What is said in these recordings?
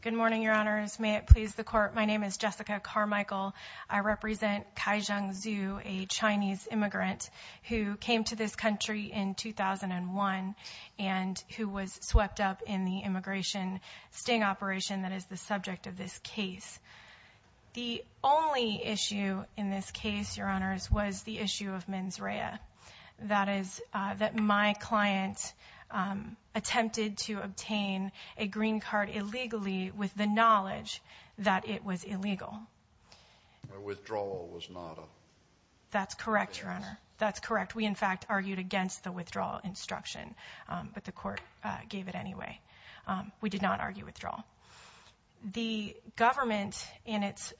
Good morning, Your Honors. May it please the Court, my name is Jessica Carmichael. I represent Kaixiang Zhu, a Chinese immigrant who came to this country in 2001 and who was swept up in the immigration sting operation that is the subject of this case. The only issue in this case, Your Honors, was the issue of mens rea. That is, that my client attempted to obtain a green card illegally with the knowledge that it was illegal. The withdrawal was not a... That's correct, Your Honor. That's correct. We, in fact, argued against the withdrawal instruction, but the Court gave it anyway. We did not argue withdrawal. The government, in its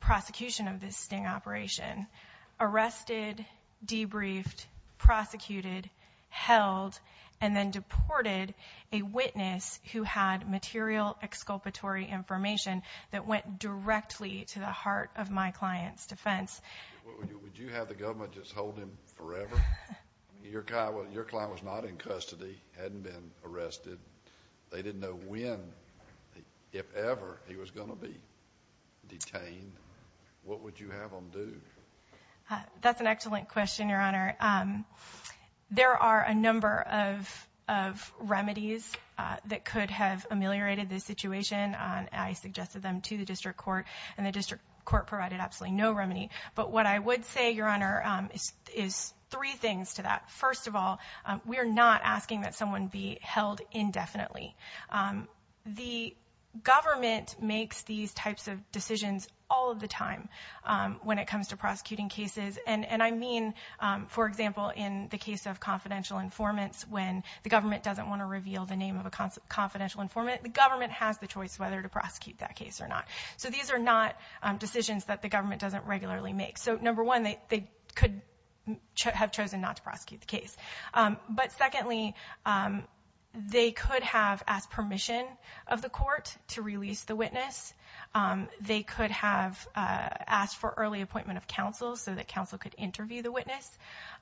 prosecution of this sting operation, arrested, debriefed, prosecuted, held, and then deported a witness who had material exculpatory information that went directly to the heart of my client's defense. Would you have the government just hold him forever? Your client was not in custody, hadn't been arrested. They didn't know when, if ever, he was going to be detained. What would you have them do? That's an excellent question, Your Honor. There are a number of remedies that could have ameliorated this situation. I suggested them to the district court, and the district court provided absolutely no remedy. But what I would say, Your Honor, is three things to that. First of all, we are not asking that someone be held indefinitely. The government makes these types of decisions all of the time when it comes to prosecuting cases. And I mean, for example, in the case of confidential informants, when the government doesn't want to reveal the name of a confidential informant, the government has the choice whether to prosecute that case or not. So these are not decisions that the government doesn't regularly make. So number one, they could have chosen not to prosecute the case. But secondly, they could have asked permission of the court to release the witness. They could have asked for early appointment of counsel so that counsel could interview the witness.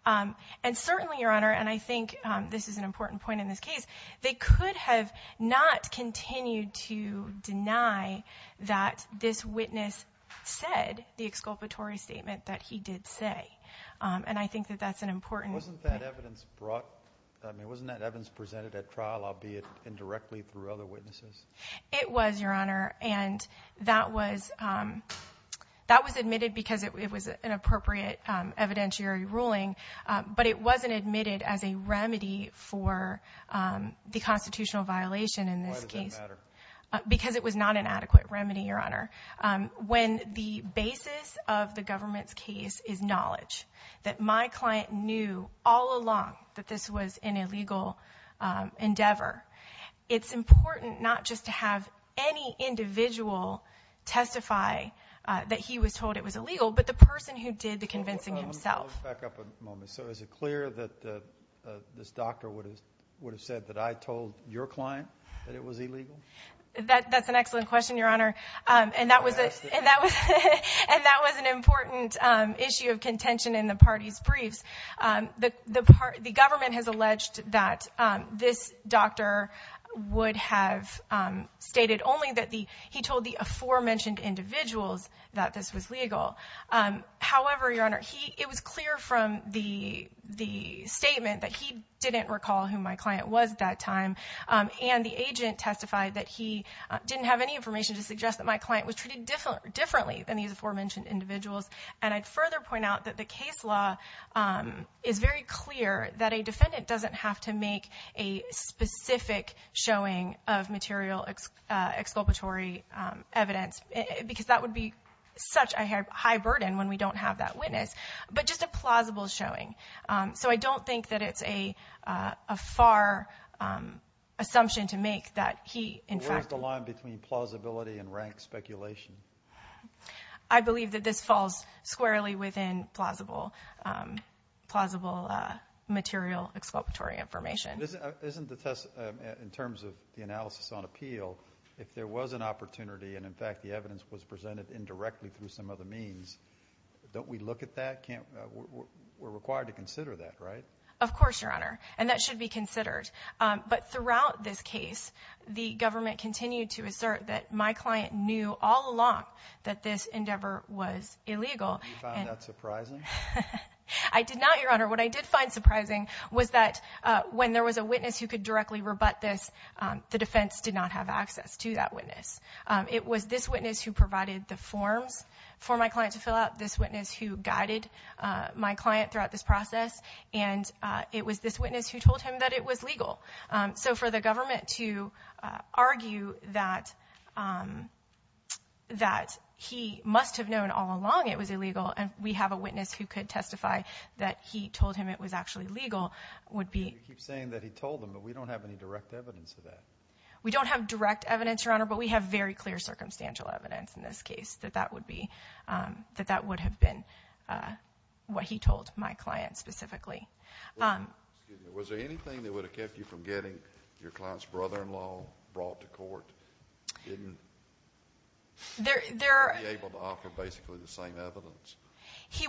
And certainly, Your Honor, and I think this is an important point in this case, they could have not continued to deny that this witness said the exculpatory statement that he did say. And I think that that's an important point. Wasn't that evidence brought, I mean, wasn't that evidence presented at trial, albeit indirectly through other witnesses? It was, Your Honor. And that was, that was admitted because it was an appropriate evidentiary ruling. But it wasn't admitted as a remedy for the constitutional violation in this case. Why does it matter? Because it was not an adequate remedy, Your Honor. When the basis of the government's case is knowledge, that my client knew all along that this was an illegal endeavor, it's important not just to have any individual testify that he was told it was illegal, but the person who did the convincing himself. Let's back up a moment. So is it clear that this doctor would have said that I told your client that this was illegal? That's an excellent question, Your Honor. And that was an important issue of contention in the party's briefs. The government has alleged that this doctor would have stated only that he told the aforementioned individuals that this was legal. However, Your Honor, it was clear from the statement that he didn't recall who my client was at that time, and the agent testified that he didn't have any information to suggest that my client was treated differently than these aforementioned individuals. And I'd further point out that the case law is very clear that a defendant doesn't have to make a specific showing of material exculpatory evidence, because that would be such a high burden when we don't have that witness, but just a plausible showing. So I don't think that it's a far assumption to make that he, in fact... Where's the line between plausibility and rank speculation? I believe that this falls squarely within plausible material exculpatory information. Isn't the test, in terms of the analysis on appeal, if there was an opportunity and, in fact, the evidence was presented indirectly through some other means, don't we look at that? We're required to consider that, right? Of course, Your Honor, and that should be considered. But throughout this case, the government continued to assert that my client knew all along that this endeavor was illegal. Did you find that surprising? I did not, Your Honor. What I did find surprising was that when there was a witness who could directly rebut this, the defense did not have access to that witness. It was this witness who provided the forms for my client to fill out, this witness who guided my client throughout this process, and it was this witness who told him that it was legal. So for the government to argue that he must have known all along it was illegal, and we have a witness who could testify that he told him it was actually legal, would be... You keep saying that he told him, but we don't have any direct evidence for that. We don't have direct evidence, Your Honor, but we have very clear circumstantial evidence in this case that that would be, that that would have been what he told my client specifically. Was there anything that would have kept you from getting your client's brother-in-law brought to court? He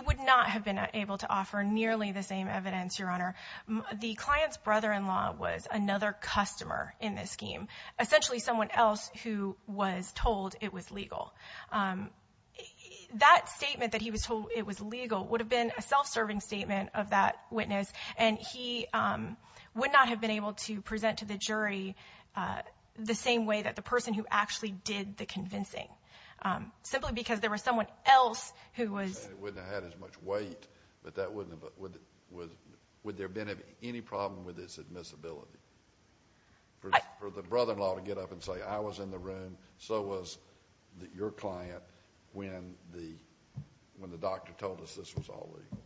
would not have been able to offer nearly the same evidence, Your Honor. The client's brother-in-law was another customer in this scheme, essentially someone else who was told it was legal. That statement that he was told it was legal would have been a self-serving statement of that witness, and he would not have been able to present to the jury the same way that the person who actually did the convincing, simply because there was someone else who was... And it wouldn't have had as much weight, but that wouldn't have, would there have been any problem with its admissibility? For the brother-in-law to get up and say, I was in the room, so was your client when the doctor told us this was all legal,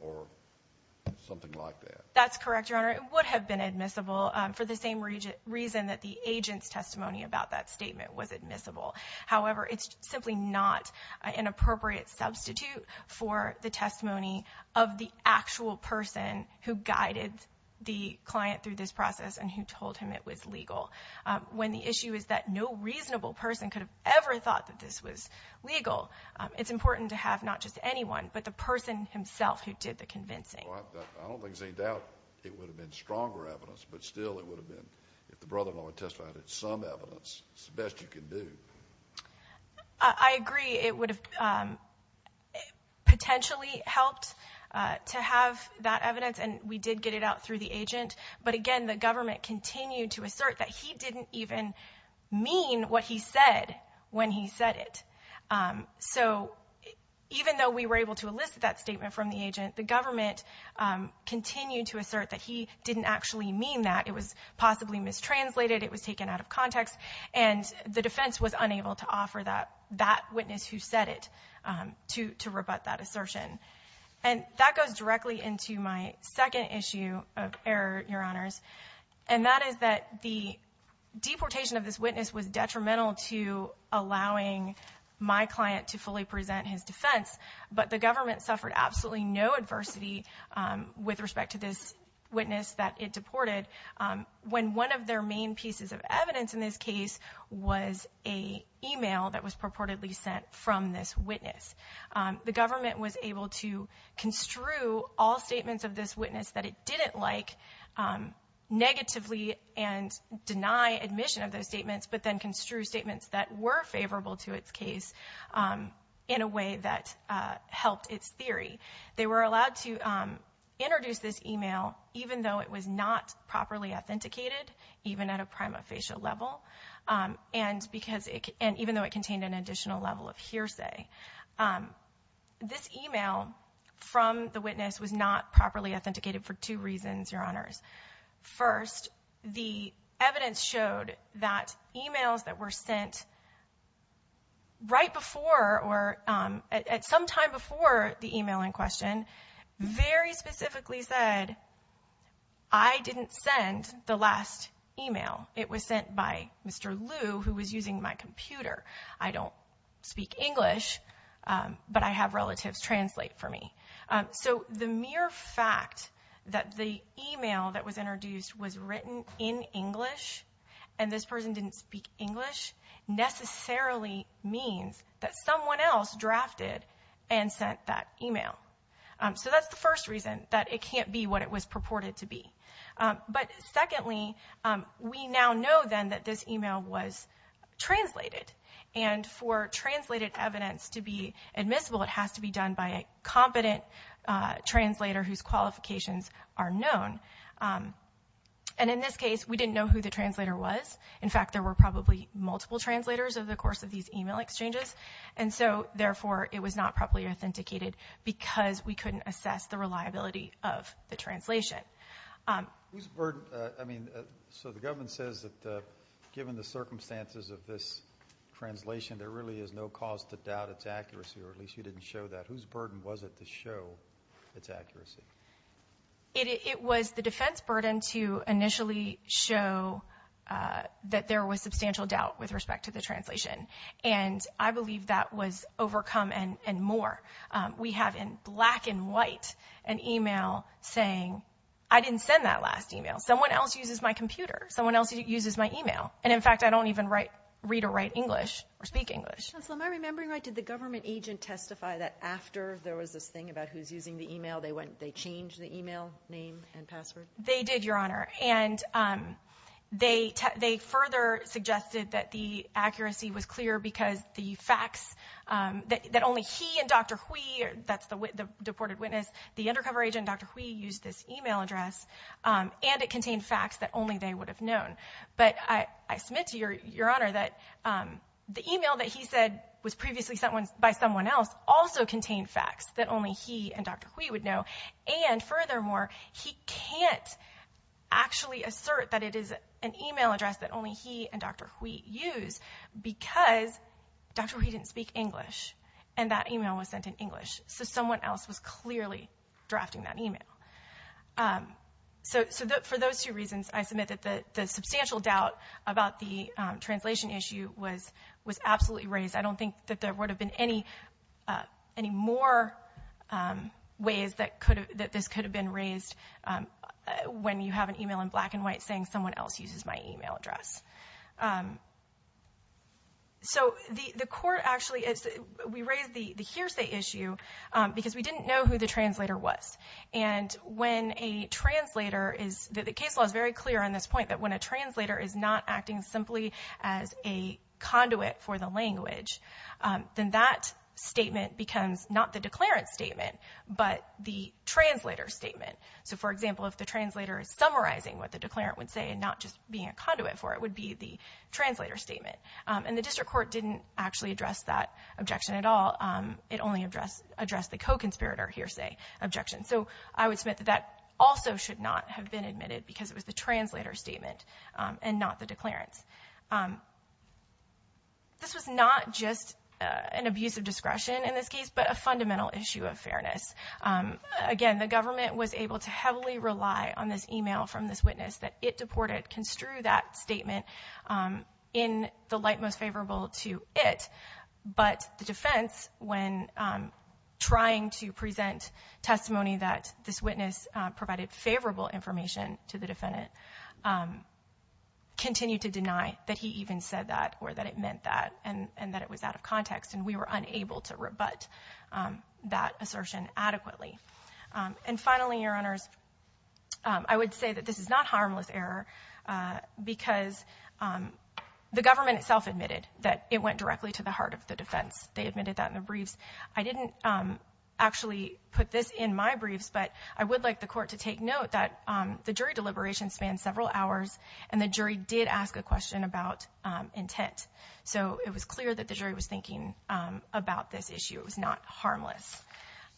or something like that. That's correct, Your Honor. It would have been admissible for the same reason that the agent's testimony about that statement was admissible. However, it's simply not an appropriate substitute for the testimony of the actual person who guided the client through this that no reasonable person could have ever thought that this was legal. It's important to have not just anyone, but the person himself who did the convincing. Well, I don't think there's any doubt it would have been stronger evidence, but still it would have been, if the brother-in-law had testified, it's some evidence. It's the best you can do. I agree. It would have potentially helped to have that evidence, and we did get it out through the agent, but again, the government continued to assert that he didn't even mean what he said when he said it. Even though we were able to elicit that statement from the agent, the government continued to assert that he didn't actually mean that. It was possibly mistranslated, it was taken out of context, and the defense was unable to offer that witness who said it to rebut that assertion. That goes directly into my second issue of error, Your Honors, and that is that the deportation of this witness was detrimental to allowing my client to fully present his defense, but the government suffered absolutely no adversity with respect to this witness that it deported when one of their main pieces of evidence in this case was an email that was purportedly sent from this witness. The government was able to construe all statements of this witness that it didn't like negatively and deny admission of those statements, but then construe statements that were favorable to its case in a way that helped its theory. They were allowed to introduce this email even though it was not properly authenticated, even at a prima facie level, and even though it contained an additional level of hearsay. This email from the witness was not properly authenticated for two reasons, Your Honors. First, the evidence showed that emails that were sent right before or at some time before the email in question very specifically said, I didn't send the last email. It was sent by Mr. Liu who was using my computer. I don't speak English, but I have relatives translate for me. So the mere fact that the email that was introduced was written in English and this person didn't speak English necessarily means that someone else drafted and sent that email. So that's the first reason, that it can't be what it was purported to be. But secondly, we now know then that this email was translated. And for translated evidence to be admissible, it has to be done by a competent translator whose qualifications are known. And in this case, we didn't know who the translator was. In fact, there were probably multiple translators over the course of these email exchanges. And so therefore, it was not properly authenticated because we couldn't assess the accuracy of the translation. Whose burden? I mean, so the government says that given the circumstances of this translation, there really is no cause to doubt its accuracy, or at least you didn't show that. Whose burden was it to show its accuracy? It was the defense burden to initially show that there was substantial doubt with respect to the translation. And I believe that was overcome and more. We have in black and white an email saying, I didn't send that last email. Someone else uses my computer. Someone else uses my email. And in fact, I don't even read or write English or speak English. Counselor, am I remembering right, did the government agent testify that after there was this thing about who's using the email, they changed the email name and password? They did, Your Honor. And they further suggested that the accuracy was clear because the facts, that only he and Dr. Hui, that's the deported witness, the undercover agent, Dr. Hui, used this email address and it contained facts that only they would have known. But I submit to Your Honor that the email that he said was previously sent by someone else also contained facts that only he and Dr. Hui would know. And furthermore, he can't actually assert that it is an email that Dr. Hui used because Dr. Hui didn't speak English and that email was sent in English. So someone else was clearly drafting that email. So for those two reasons, I submit that the substantial doubt about the translation issue was absolutely raised. I don't think that there would have been any more ways that this could have been raised when you have an email in black and white. So the court actually, we raised the hearsay issue because we didn't know who the translator was. And when a translator is, the case law is very clear on this point, that when a translator is not acting simply as a conduit for the language, then that statement becomes not the declarant statement, but the translator statement. So for example, if the translator is summarizing what the declarant would say and not just being a conduit for it, would be the translator statement. And the district court didn't actually address that objection at all. It only addressed the co-conspirator hearsay objection. So I would submit that that also should not have been admitted because it was the translator statement and not the declarants. This was not just an abuse of discretion in this case, but a fundamental issue of fairness. Again, the government was able to heavily rely on this email from this witness that it deported, construe that statement in the light most favorable to it. But the defense, when trying to present testimony that this witness provided favorable information to the defendant, continued to deny that he even said that, or that it meant that, and that it was out of context. And we were unable to rebut that assertion adequately. And finally, Your Honors, I would say that this is not harmless error because the government itself admitted that it went directly to the heart of the defense. They admitted that in the briefs. I didn't actually put this in my briefs, but I would like the court to take note that the jury deliberation spanned several hours and the jury did ask a question about intent. So it was clear that the jury was thinking about this issue. It was not harmless.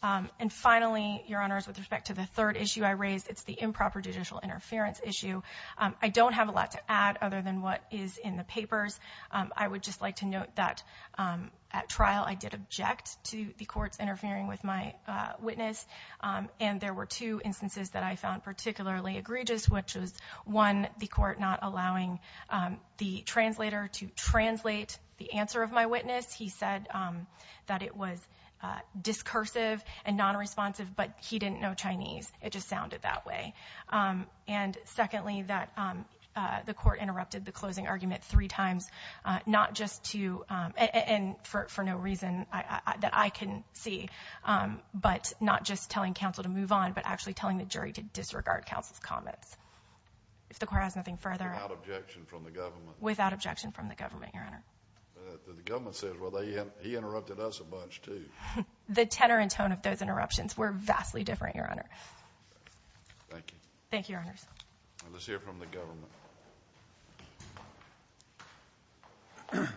And finally, Your Honors, with respect to the third issue I raised, it's the improper judicial interference issue. I don't have a lot to add other than what is in the papers. I would just like to note that at trial, I did object to the courts interfering with my witness. And there were two instances that I found particularly egregious, which was one, the court not allowing the translator to translate the answer of my witness. He said that it was discursive and non-responsive, but he didn't know Chinese. It just sounded that way. And secondly, that the court interrupted the closing argument three times, not just to, and for no reason that I can see, but not just telling counsel to move on, but actually telling the jury to disregard counsel's comments. If the court has nothing further. Without objection from the government. Without objection from the government, Your Honor. The government says, well, he interrupted us a bunch too. The tenor and tone of those interruptions were vastly different, Your Honor. Thank you. Thank you, Your Honors. Let's hear from the government.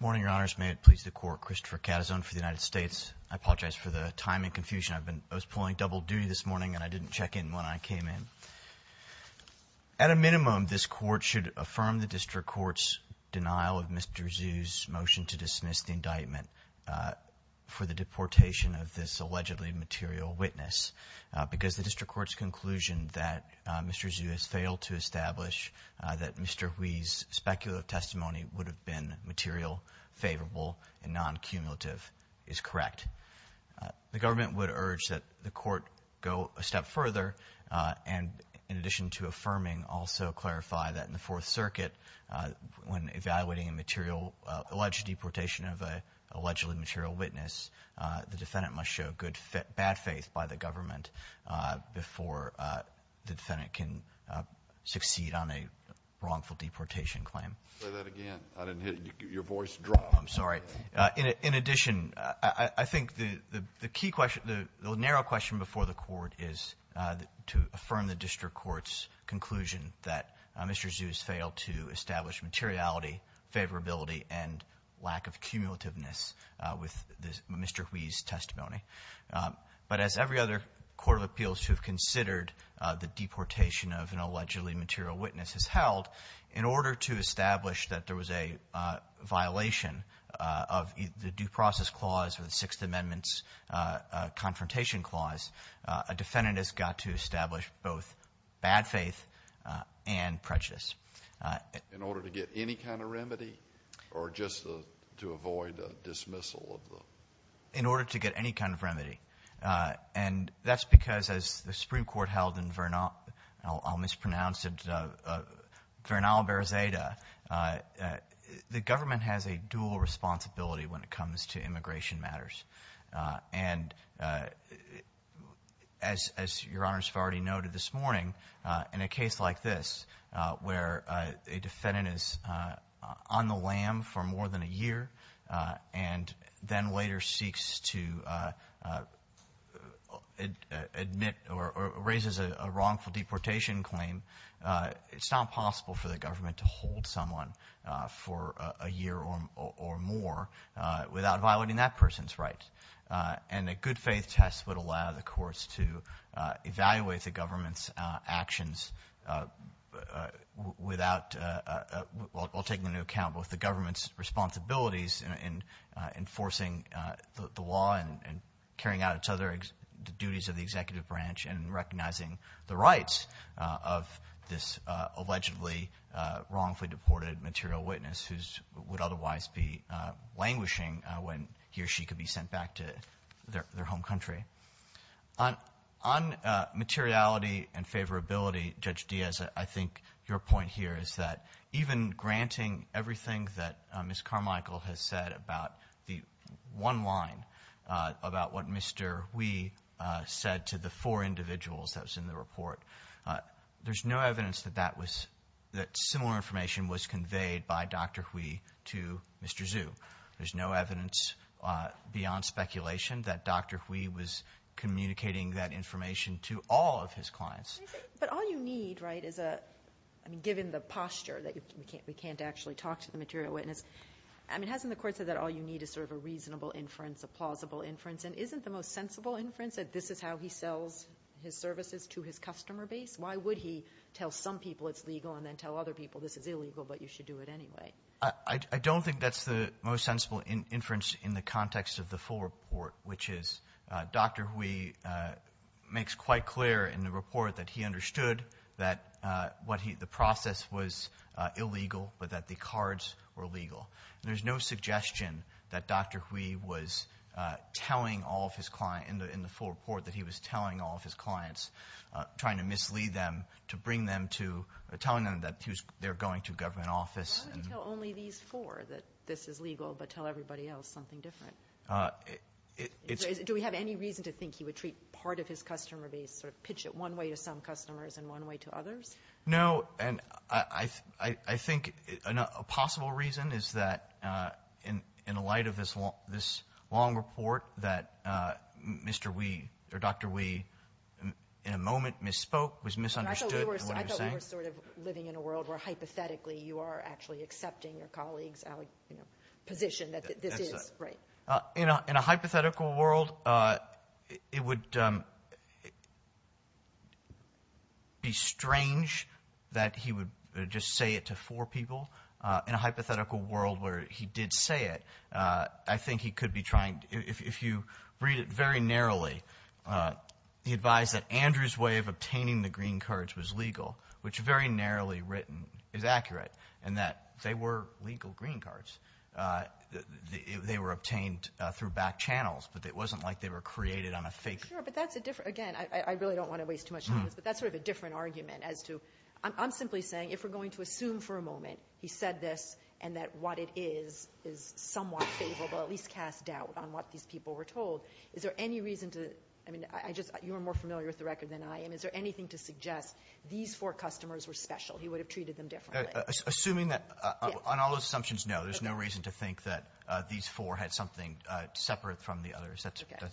Good morning, Your Honors. May it please the court, Christopher Catazon for the United States. I apologize for the time and confusion. I've been, I was pulling double duty this morning, and I didn't check in when I came in. At a minimum, this court should affirm the district court's denial of Mr. Zhu's motion to dismiss the indictment for the deportation of this allegedly material witness. Because the district court's conclusion that Mr. Zhu has failed to establish that Mr. Hui's speculative testimony would have been material, favorable, and non-cumulative is correct. The government would urge that the court go a step further, and in addition to affirming, also clarify that in the Fourth Circuit, when evaluating a material, alleged deportation of an allegedly material witness, the defendant must show good, bad faith by the government before the defendant can succeed on a wrongful deportation claim. Say that again. I didn't hear you. Your voice dropped. I'm sorry. In addition, I think the key question, the narrow question before the court is to affirm the district court's conclusion that Mr. Zhu has failed to establish materiality, favorability, and lack of cumulativeness with Mr. Hui's testimony. But as every other court of appeals who have considered the deportation of an allegedly material witness has held, in order to establish that there was a violation of the Due Process Clause or the Sixth Amendment's Confrontation Clause, a defendant has got to establish both bad faith and prejudice. In order to get any kind of remedy or just to avoid the dismissal? In order to get any kind of remedy. And that's because, as the Supreme Court held in Vernal, I'll mispronounce it, Vernal-Berzeda, the government has a dual responsibility when it comes to immigration matters. And as Your Honors have already noted this morning, in a case like this, where a defendant is on the lam for more than a year and then later seeks to admit or raises a wrongful deportation claim, it's not possible for the government to hold someone for a year or more without violating that person's rights. And a good faith test would allow the courts to evaluate the government's actions without, while taking into account both the government's responsibilities in enforcing the law and carrying out its other duties of recognizing the rights of this allegedly wrongfully deported material witness who would otherwise be languishing when he or she could be sent back to their home country. On materiality and favorability, Judge Diaz, I think your point here is that even granting everything that Ms. Carmichael has said about the one line about what Mr. Hui said to the four individuals that was in the report, there's no evidence that that was, that similar information was conveyed by Dr. Hui to Mr. Zhu. There's no evidence beyond speculation that Dr. Hui was communicating that information to all of his clients. But all you need, right, is a, I mean, given the posture that we can't actually talk to the material witness, I mean, hasn't the court said that all you need is sort of a reasonable inference, a plausible inference? And isn't the most sensible inference that this is how he sells his services to his customer base? Why would he tell some people it's legal and then tell other people this is illegal, but you should do it anyway? I don't think that's the most sensible inference in the context of the full report, which is Dr. Hui makes quite clear in the report that he understood that what he, the process was illegal, but that the cards were legal. There's no suggestion that Dr. Hui was telling all of his client in the, in the full report that he was telling all of his clients, trying to mislead them to bring them to telling them that he was, they're going to government office. Why would he tell only these four that this is legal, but tell everybody else something different? Do we have any reason to treat part of his customer base or pitch it one way to some customers and one way to others? No. And I, I, I think a possible reason is that, uh, in, in the light of this long, this long report that, uh, Mr. Wee or Dr. Wee in a moment misspoke was misunderstood. We were sort of living in a world where hypothetically you are actually accepting your colleagues position that this is right. Uh, you know, in a hypothetical world, uh, it would, um, be strange that he would just say it to four people, uh, in a hypothetical world where he did say it. Uh, I think he could be trying to, if you read it very narrowly, uh, he advised that Andrew's way of obtaining the green cards was legal, which very narrowly written is accurate and that they were legal green cards. Uh, they were obtained through back channels, but it wasn't like they were created on a fake. Sure. But that's a different, again, I really don't want to waste too much time on this, but that's sort of a different argument as to, I'm simply saying, if we're going to assume for a moment, he said this and that what it is, is somewhat favorable, at least cast doubt on what these people were told. Is there any reason to, I mean, I just, you're more familiar with the record than I am. Is there anything to suggest these four customers were special? He on all those assumptions? No, there's no reason to think that these four had something separate from the others. That's okay.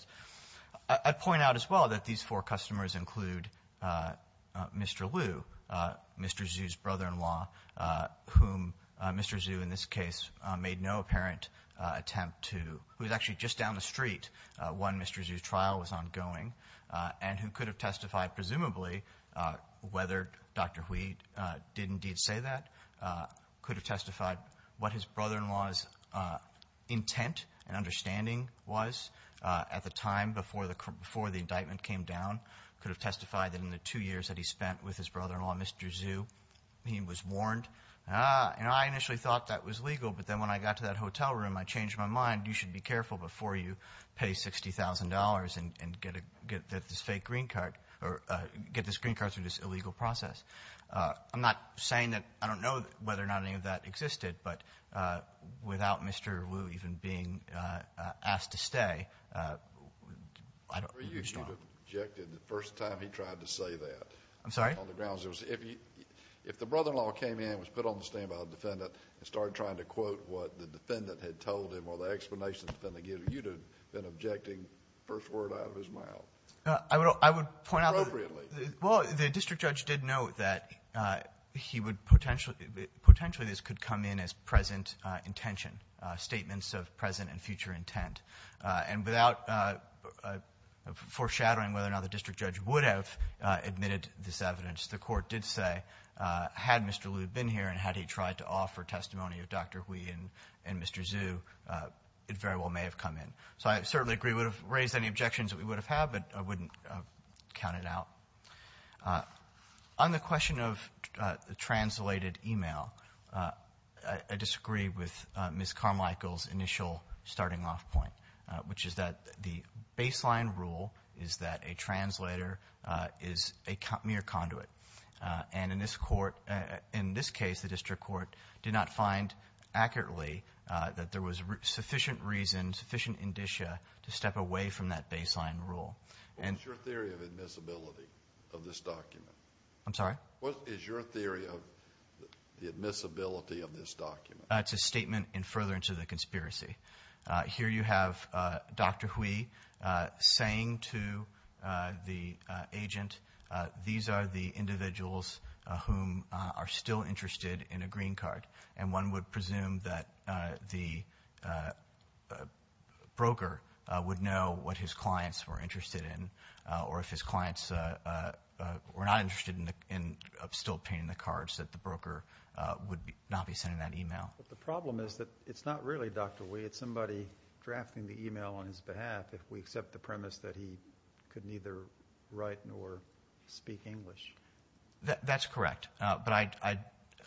I'd point out as well that these four customers include, uh, uh, Mr. Lou, uh, Mr. Zoo's brother-in-law, uh, whom, uh, Mr. Zoo in this case, uh, made no apparent, uh, attempt to, who was actually just down the street. Uh, one, Mr. Zoo's trial was ongoing, uh, and who could have testified presumably, uh, whether Dr. Wheat, uh, did indeed say that, uh, could have testified what his brother-in-law's, uh, intent and understanding was, uh, at the time before the, before the indictment came down, could have testified that in the two years that he spent with his brother-in-law, Mr. Zoo, he was warned. Ah, and I initially thought that was legal, but then when I got to that hotel room, I changed my mind. You should be careful before you pay $60,000 and, and get a, get this fake green card, or, uh, get this green card through this illegal process. Uh, I'm not saying that, I don't know whether or not any of that existed, but, uh, without Mr. Lou even being, uh, uh, asked to stay, uh, I don't, I'm strong. You should have objected the first time he tried to say that. I'm sorry? On the grounds, it was, if he, if the brother-in-law came in and was put on the stand by a defendant and started trying to quote what the defendant had told him or the explanation the defendant gave, you'd have been objecting first word out of his mouth. Uh, I would, I would point out. Appropriately. Well, the district judge did note that, uh, he would potentially, potentially this could come in as present, uh, intention, uh, statements of present and future intent. Uh, and without, uh, uh, foreshadowing whether or not the district judge would have, uh, admitted this evidence, the court did say, uh, had Mr. Lou been here and had he tried to offer testimony of Dr. Hui and, and Mr. Zhu, uh, it very well may have come in. So I certainly agree we would have raised any objections that we would have had, but I Uh, on the question of, uh, the translated email, uh, I disagree with, uh, Ms. Carmichael's initial starting off point, uh, which is that the baseline rule is that a translator, uh, is a mere conduit. Uh, and in this court, uh, in this case, the district court did not find accurately, uh, that there was sufficient reason, sufficient indicia to step away from that baseline rule. What is your theory of admissibility of this document? I'm sorry? What is your theory of the admissibility of this document? Uh, it's a statement in furtherance of the conspiracy. Uh, here you have, uh, Dr. Hui, uh, saying to, uh, the, uh, agent, uh, these are the individuals, uh, whom, uh, are still interested in a green card. And one would presume that, uh, the, uh, uh, broker, uh, would know what his clients were interested in, uh, or if his clients, uh, uh, uh, were not interested in the, in still obtaining the cards, that the broker, uh, would be, not be sending that email. But the problem is that it's not really Dr. Hui, it's somebody drafting the email on his behalf if we accept the premise that he could neither write nor speak English. That's correct. Uh, but I, I,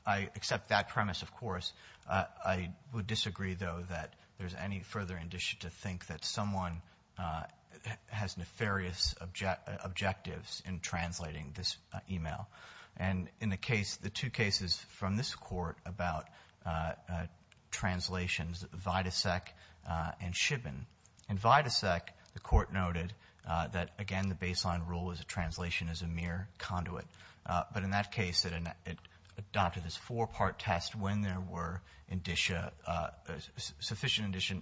I accept that premise, of course. Uh, I would disagree, though, that there's any further indicia to think that someone, uh, has nefarious objectives in translating this, uh, email. And in the case, the two cases from this court about, uh, uh, translations, Vidasek, uh, and Shibin. In Vidasek, the court noted, uh, that, again, the baseline rule is a translation is a mere conduit. Uh, but in that case, it, it adopted this four-part test when there were indicia, uh, sufficient indicia,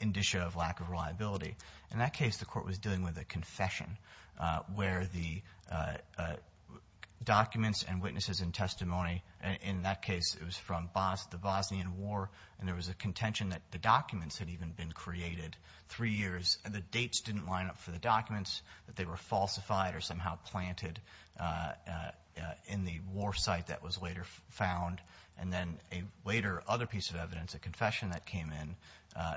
indicia of lack of reliability. In that case, the court was dealing with a confession, uh, where the, uh, uh, documents and witnesses and testimony, in that case, it was from Bos, the Bosnian War, and there was a contention that the documents had even been created three years, and the dates didn't line up for the documents, that they were falsified or somehow planted, uh, uh, uh, in the war site that was later found. And then a later other piece of evidence, a confession that came in, uh,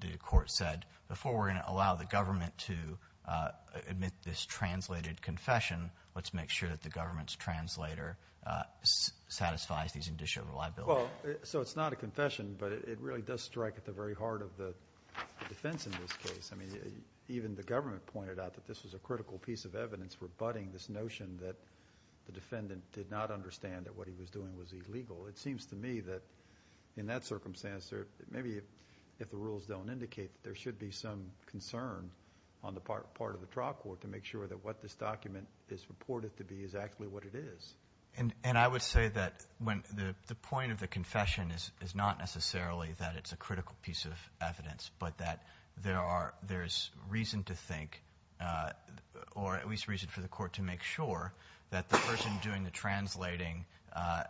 the, the court said, before we're going to allow the government to, uh, admit this translated confession, let's make sure that the government's translator, uh, satisfies these indicia of reliability. Well, so it's not a confession, but it really does strike at the very heart of the defense in this case. I mean, uh, even the government pointed out that this was a critical piece of evidence for budding this notion that the defendant did not understand that what he was doing was illegal. It seems to me that in that circumstance, there, maybe if, if the rules don't indicate that there should be some concern on the part, part of the trial court to make sure that what this document is reported to be is actually what it is. And, and I would say that when the, the point of the confession is, is not necessarily that it's a critical piece of evidence, but that there are, there's reason to think, uh, or at least reason for the court to make sure that the person doing the translating, uh,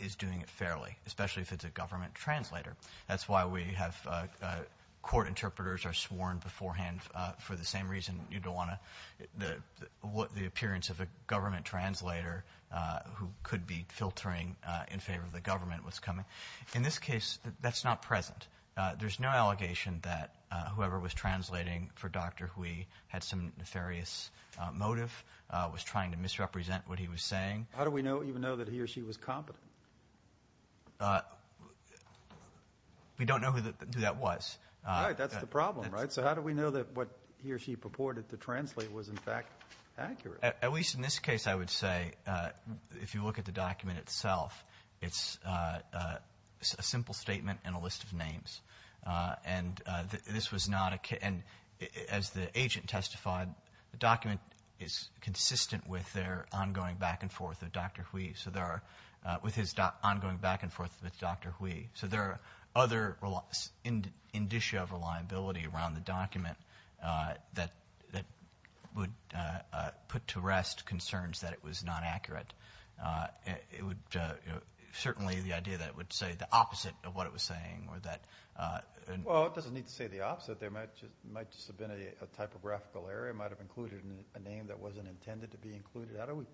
is doing it fairly, especially if it's a government translator. That's why we have, uh, uh, court interpreters are sworn beforehand, uh, for the same reason you don't want to, the, the, what the appearance of a government translator, uh, who could be filtering, uh, in favor of the government was coming. In this case, that's not present. Uh, there's no allegation that, uh, whoever was translating for Dr. Hui had some nefarious, uh, motive, uh, was trying to misrepresent what he was saying. How do we know, even know that he or she was competent? Uh, we don't know who the, who that was. All right. That's the problem, right? So how do we know that what he or she purported to translate was in fact accurate? At least in this case, I would say, uh, if you look at the document itself, it's, uh, uh, a simple statement and a list of names. Uh, and, uh, this was not a, and as the agent testified, the document is consistent with their ongoing back and forth with Dr. Hui. So there are, uh, with his ongoing back and forth with Dr. Hui. So there are other relia, indicia of reliability around the document, uh, that, that would, uh, uh, put to rest concerns that it was not accurate. Uh, it would, uh, certainly the idea that it would say the opposite of what it was saying or that, uh, well, it doesn't need to say the opposite. There might just, might just have been a, a typographical error. It might've included a name that wasn't intended to be included. How do we,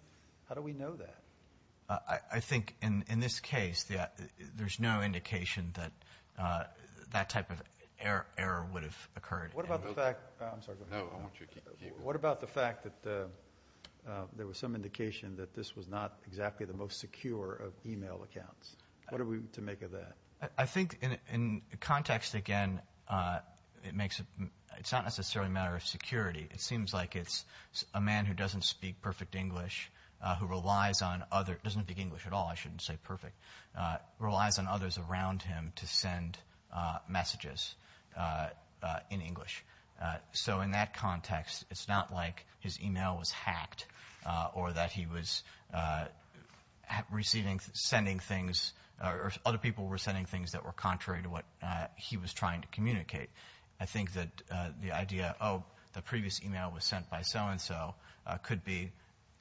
how do we know that? Uh, I think in, in this case, the, there's no indication that, uh, that type of error, error would have occurred. What about the fact, I'm sorry. No, I want you to keep going. What about the fact that, uh, uh, there was some indication that this was not exactly the most secure of email accounts? What are we to make of that? I think in, in context, again, uh, it makes it, it's not necessarily a matter of security. It seems like it's a man who doesn't speak perfect English, uh, who relies on other, doesn't speak English at all. I shouldn't say perfect, uh, relies on others around him to send, uh, messages, uh, uh, in English. So in that context, it's not like his email was hacked, uh, or that he was, uh, receiving, sending things, or other people were sending things that were contrary to what, uh, he was trying to communicate. I think that, uh, the idea, oh, the previous email was sent by so-and-so, uh, could be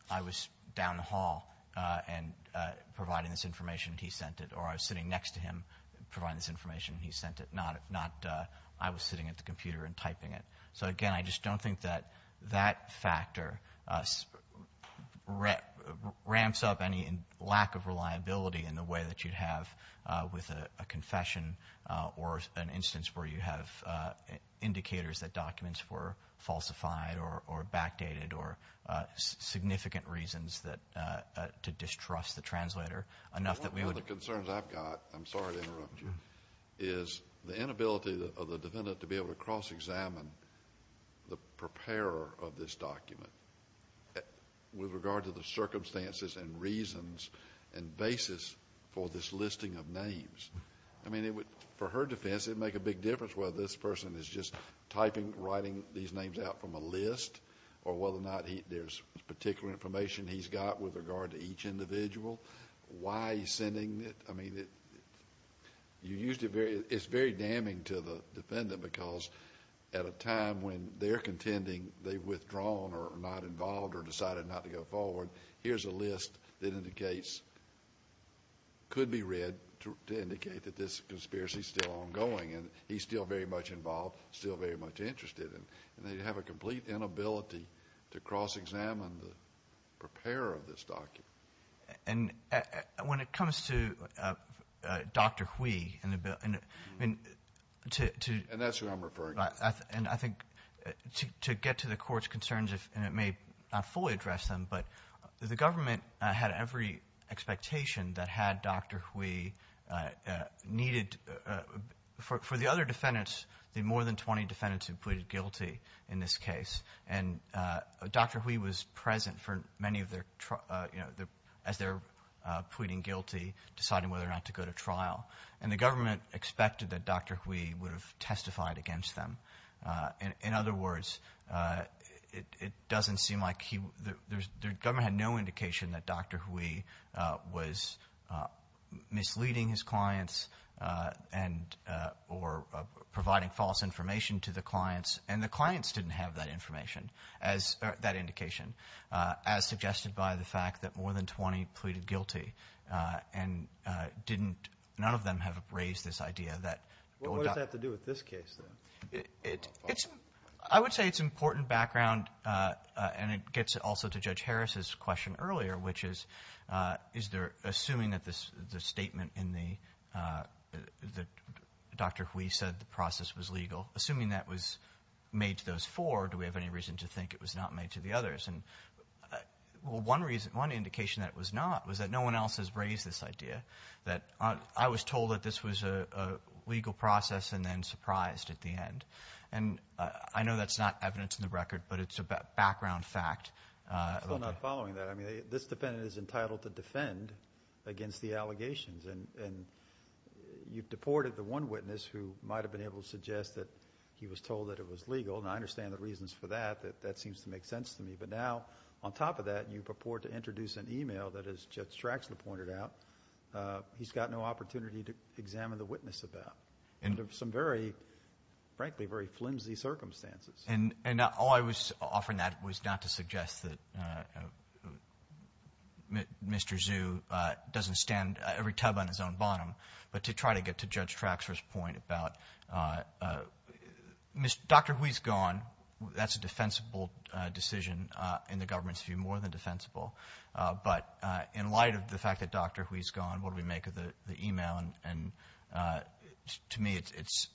I was down the hall, uh, and, uh, providing this information, he sent it. Or I was sitting next to him, providing this information, he sent it. Not, uh, I was sitting at the computer and typing it. So again, I just don't think that that factor, uh, ramps up any lack of reliability in the way that you'd have, uh, with a confession, uh, or an instance where you have, uh, indicators that documents were falsified or, or backdated, or, uh, significant reasons that, uh, uh, to distrust the translator enough that we would... is the inability of the defendant to be able to cross-examine the preparer of this document with regard to the circumstances and reasons and basis for this listing of names. I mean, it would, for her defense, it would make a big difference whether this person is just typing, writing these names out from a list, or whether or not he, there's particular information he's got with regard to each individual. Why he's sending it? I mean, it, you used it very, it's very damning to the defendant because at a time when they're contending they've withdrawn or not involved or decided not to go forward, here's a list that indicates, could be read to indicate that this conspiracy is still ongoing and he's still very much involved, still very much interested, and they have a complete inability to cross-examine the preparer of this document. And when it comes to, uh, uh, Dr. Hui in the bill, I mean, to, to... And that's who I'm referring to. And I think to, to get to the court's concerns, and it may not fully address them, but the government had every expectation that had Dr. Hui, uh, uh, needed, uh, for, for the other defendants, the more than twenty defendants who pleaded guilty in this case, and, uh, Dr. Hui was present for many of their, uh, you know, the, as they're, uh, pleading guilty, deciding whether or not to go to trial. And the government expected that Dr. Hui would have testified against them. Uh, in, in other words, uh, it, it doesn't seem like he, the, there's, the government had no indication that Dr. Hui, uh, was, uh, misleading his clients, uh, and, uh, or, uh, providing false information to the clients, and the clients didn't have that information. As, uh, that indication, uh, as suggested by the fact that more than twenty pleaded guilty, uh, and, uh, didn't, none of them have raised this idea that... What does that have to do with this case, then? It, it's, I would say it's important background, uh, uh, and it gets also to Judge Harris's question earlier, which is, uh, is there, assuming that this, the statement in the, uh, that Dr. Hui said the process was legal, assuming that was made to those four, do we have any reason to think it was not made to the others? And, uh, well, one reason, one indication that it was not was that no one else has raised this idea that, uh, I was told that this was a, a legal process and then surprised at the end. And, uh, I know that's not evidence in the record, but it's a background fact, uh... I'm still not following that. I mean, this defendant is entitled to defend against the allegations, and, and you've deported the one witness who might have been able to suggest that he was told that it was that, that, that seems to make sense to me. But now, on top of that, you purport to introduce an email that, as Judge Traxler pointed out, uh, he's got no opportunity to examine the witness about. And some very, frankly, very flimsy circumstances. And, and all I was offering that was not to suggest that, uh, uh, Mr. Zhu, uh, doesn't stand every tub on his own bottom, but to try to get to Judge Traxler's point about, uh, uh, Mr.... Dr. Hui's gone. That's a defensible, uh, decision, uh, in the government's view, more than defensible. Uh, but, uh, in light of the fact that Dr. Hui's gone, what do we make of the, the email? And, uh, to me, it's, it's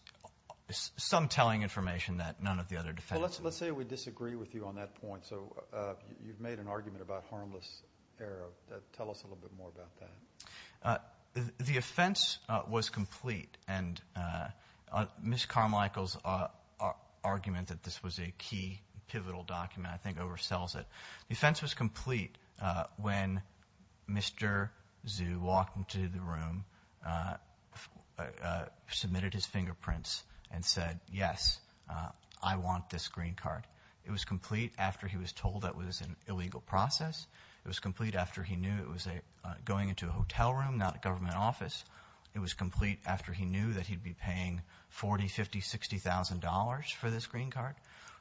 some telling information that none of the other defendants... Well, let's, let's say we disagree with you on that point. So, uh, you've made an argument about harmless error. Tell us a little bit more about that. Uh, the, the offense, uh, was complete. And, uh, uh, Ms. Carmichael's, uh, uh, argument that this was a key, pivotal document, I think oversells it. The offense was complete, uh, when Mr. Zhu walked into the room, uh, uh, uh, submitted his fingerprints and said, yes, uh, I want this green card. It was complete after he was told that it was an illegal process. It was complete after he knew it was a, uh, going into a hotel room, not a government office. It was complete after he knew that he'd be paying $40,000, $50,000, $60,000 for this green card.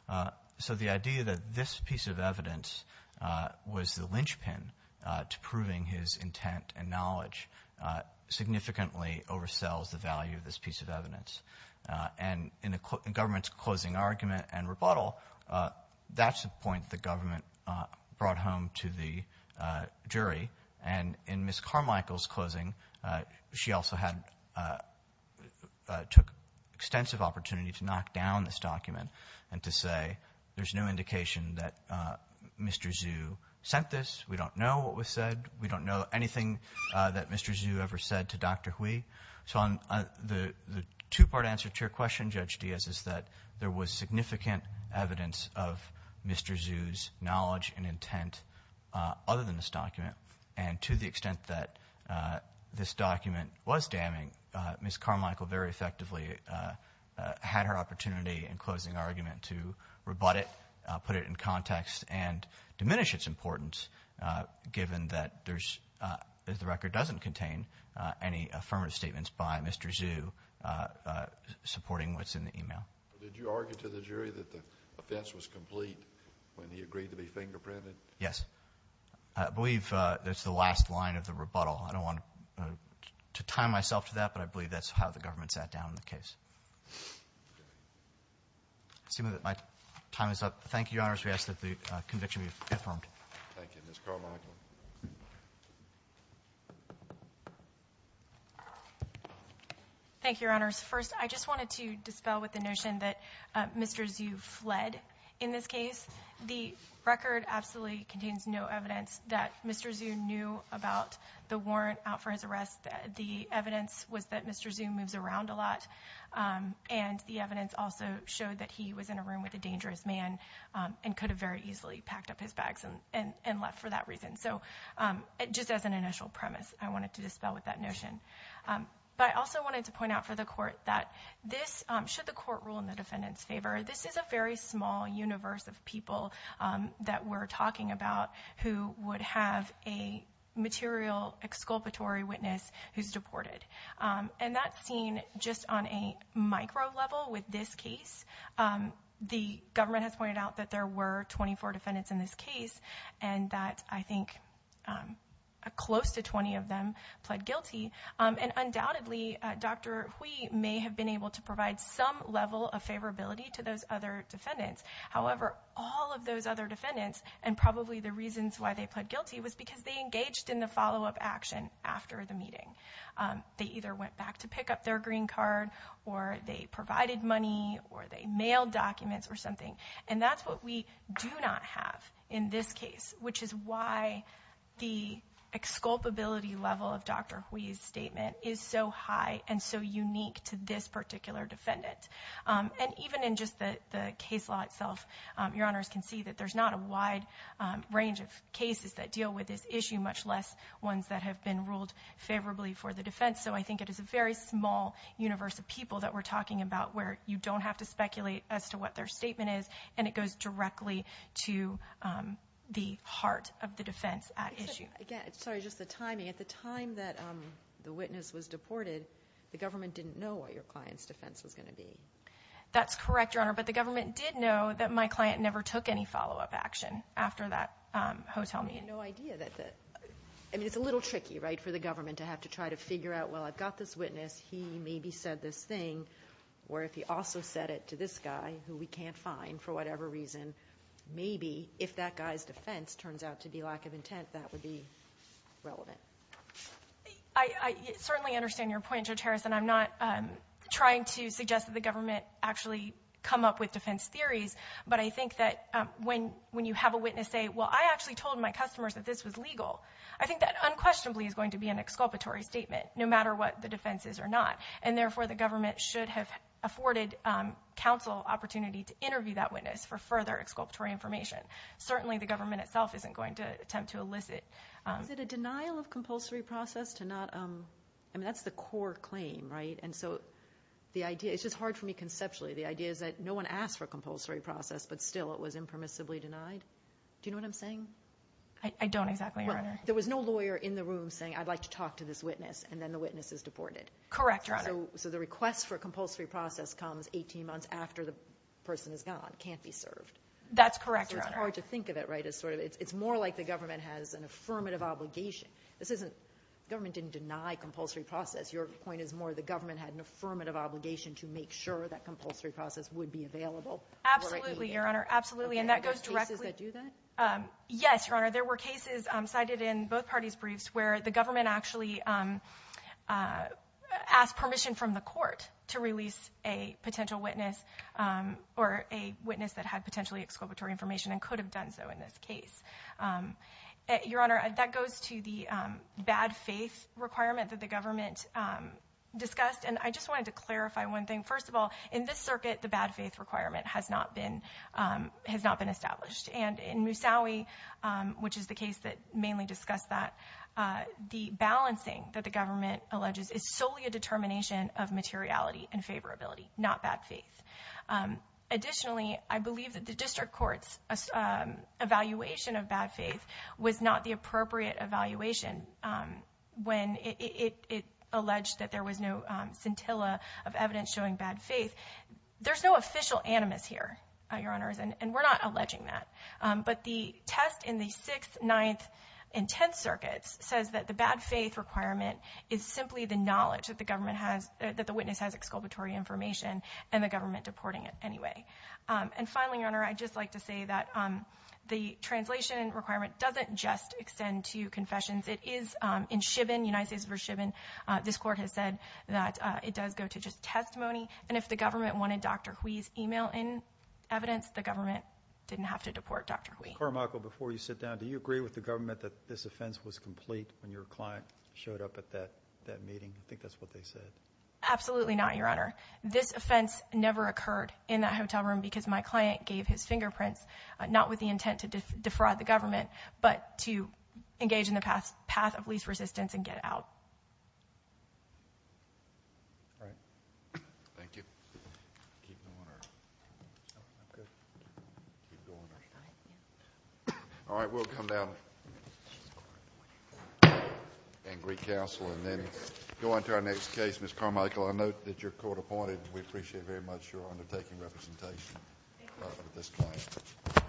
Uh, so the idea that this piece of evidence, uh, was the linchpin, uh, to proving his intent and knowledge, uh, significantly oversells the value of this piece of evidence. Uh, and in the government's closing argument and rebuttal, uh, that's the point the government, uh, brought home to the, uh, jury. And in Ms. Carmichael's closing, uh, she also had, uh, uh, took extensive opportunity to knock down this document and to say, there's no indication that, uh, Mr. Zhu sent this. We don't know what was said. We don't know anything, uh, that Mr. Zhu ever said to Dr. Hui. So I'm, uh, the, the two-part answer to your question, Judge Diaz, is that there was significant evidence of Mr. Zhu's knowledge and intent, uh, other than this document. And to the extent that, uh, this document was damning, uh, Ms. Carmichael very effectively, uh, uh, had her opportunity in closing argument to rebut it, uh, put it in context and diminish its importance, uh, given that there's, uh, the record doesn't contain, uh, any affirmative statements by Mr. Zhu, uh, uh, supporting what's in the email. Did you argue to the jury that the offense was complete when he agreed to be fingerprinted? Yes. I believe, uh, that's the last line of the rebuttal. I don't want to, uh, to tie myself to that, but I believe that's how the government sat down on the case. I assume that my time is up. Thank you, Your Honors. We ask that the, uh, conviction be confirmed. Thank you. Ms. Carmichael. Thank you, Your Honors. First, I just wanted to dispel with the notion that, uh, Mr. Zhu fled in this case. The record absolutely contains no evidence that Mr. Zhu knew about the warrant out for his arrest. The evidence was that Mr. Zhu moves around a lot, um, and the evidence also showed that he was in a room with a dangerous man, um, and could have very easily packed up his bags and, and, and left for that reason. So, um, just as an initial premise, I wanted to dispel with that notion. Um, but I also wanted to point out for the court that this, um, should the court rule in the defendant's favor, this is a very small universe of people, um, that we're talking about who would have a material exculpatory witness who's deported. Um, and that's seen just on a micro level with this case. Um, the government has pointed out that there were 24 defendants in this case, and that I think, um, close to 20 of them pled guilty. Um, and undoubtedly, uh, Dr. Hui may have been able to provide some level of favorability to those other defendants. However, all of those other defendants, and probably the reasons why they pled guilty was because they engaged in the follow-up action after the meeting. Um, they either went back to pick up their green card, or they provided money, or they mailed documents or something. And that's what we do not have in this case, which is why the exculpability level of Dr. Hui's statement is so high and so unique to this particular defendant. Um, and even in just the, the case law itself, um, your honors can see that there's not a wide, um, range of cases that deal with this issue, much less ones that have been ruled favorably for the defense. So I think it is a very small universe of people that we're talking about where you don't have to speculate as to what their statement is, and it goes directly to, um, the heart of the defense at issue. Again, sorry, just the timing, at the time that, um, the witness was deported, the government didn't know what your client's defense was going to be. That's correct, your honor. But the government did know that my client never took any follow-up action after that, um, hotel meeting. I had no idea that the, I mean, it's a little tricky, right, for the government to have to try to figure out, well, I've got this witness, he maybe said this thing, or if he also said it to this guy, who we can't find for whatever reason, maybe, if that guy's defense turns out to be lack of intent, that would be relevant. I certainly understand your point, Judge Harrison, I'm not, um, trying to suggest that the government actually come up with defense theories, but I think that, um, when, when you have a witness say, well, I actually told my customers that this was legal, I think that unquestionably is going to be an exculpatory statement, no matter what the defense is or not, and therefore the government should have afforded, um, counsel opportunity to interview that witness for further exculpatory information. Certainly the government itself isn't going to attempt to elicit, um... Is it a denial of compulsory process to not, um, I mean, that's the core claim, right? And so, the idea, it's just hard for me conceptually, the idea is that no one asked for compulsory process, but still it was impermissibly denied. Do you know what I'm saying? I, I don't exactly, your honor. There was no lawyer in the room saying, I'd like to talk to this witness, and then the witness is deported. Correct, your honor. So, so the request for compulsory process comes 18 months after the person is gone, can't be served. That's correct, your honor. So it's hard to think of it, right? It's sort of, it's more like the government has an affirmative obligation. This isn't, government didn't deny compulsory process. Your point is more the government had an affirmative obligation to make sure that compulsory process would be available. Absolutely, your honor. Absolutely. And that goes directly... Are there cases that do that? Um, yes, your honor. There were cases cited in both parties' briefs where the government actually, um, uh, asked permission from the court to release a potential witness, um, or a witness that had potentially exculpatory information and could have done so in this case. Um, your honor, that goes to the, um, bad faith requirement that the government, um, discussed. And I just wanted to clarify one thing. First of all, in this circuit, the bad faith requirement has not been, um, has not been established. And in Musawi, um, which is the case that mainly discussed that, uh, the balancing that the government alleges is solely a determination of materiality and favorability, not bad faith. Um, additionally, I believe that the district court's, uh, um, evaluation of bad faith was not the appropriate evaluation, um, when it, it, it alleged that there was no, um, scintilla of evidence showing bad faith. There's no official animus here, uh, your honors, and, and we're not alleging that. Um, but the test in the 6th, 9th, and 10th circuits says that the bad faith requirement is simply the knowledge that the government has, uh, that the witness has exculpatory information and the government deporting it anyway. Um, and finally, your honor, I'd just like to say that, um, the translation requirement doesn't just extend to confessions. It is, um, in Chivin, United States v. Chivin, uh, this court has said that, uh, it does go to just testimony. And if the government wanted Dr. Hui's email in evidence, the government didn't have to deport Dr. Hui. Carmichael, before you sit down, do you agree with the government that this offense was complete when your client showed up at that, that meeting? I think that's what they said. Absolutely not, your honor. This offense never occurred in that hotel room because my client gave his fingerprints, uh, not with the intent to defraud the government, but to engage in the path, path of least resistance and get out. All right. Thank you. All right, we'll come down and re-counsel and then go on to our next case, Ms. Carmichael. I note that you're court-appointed. We appreciate very much your undertaking representation of this client.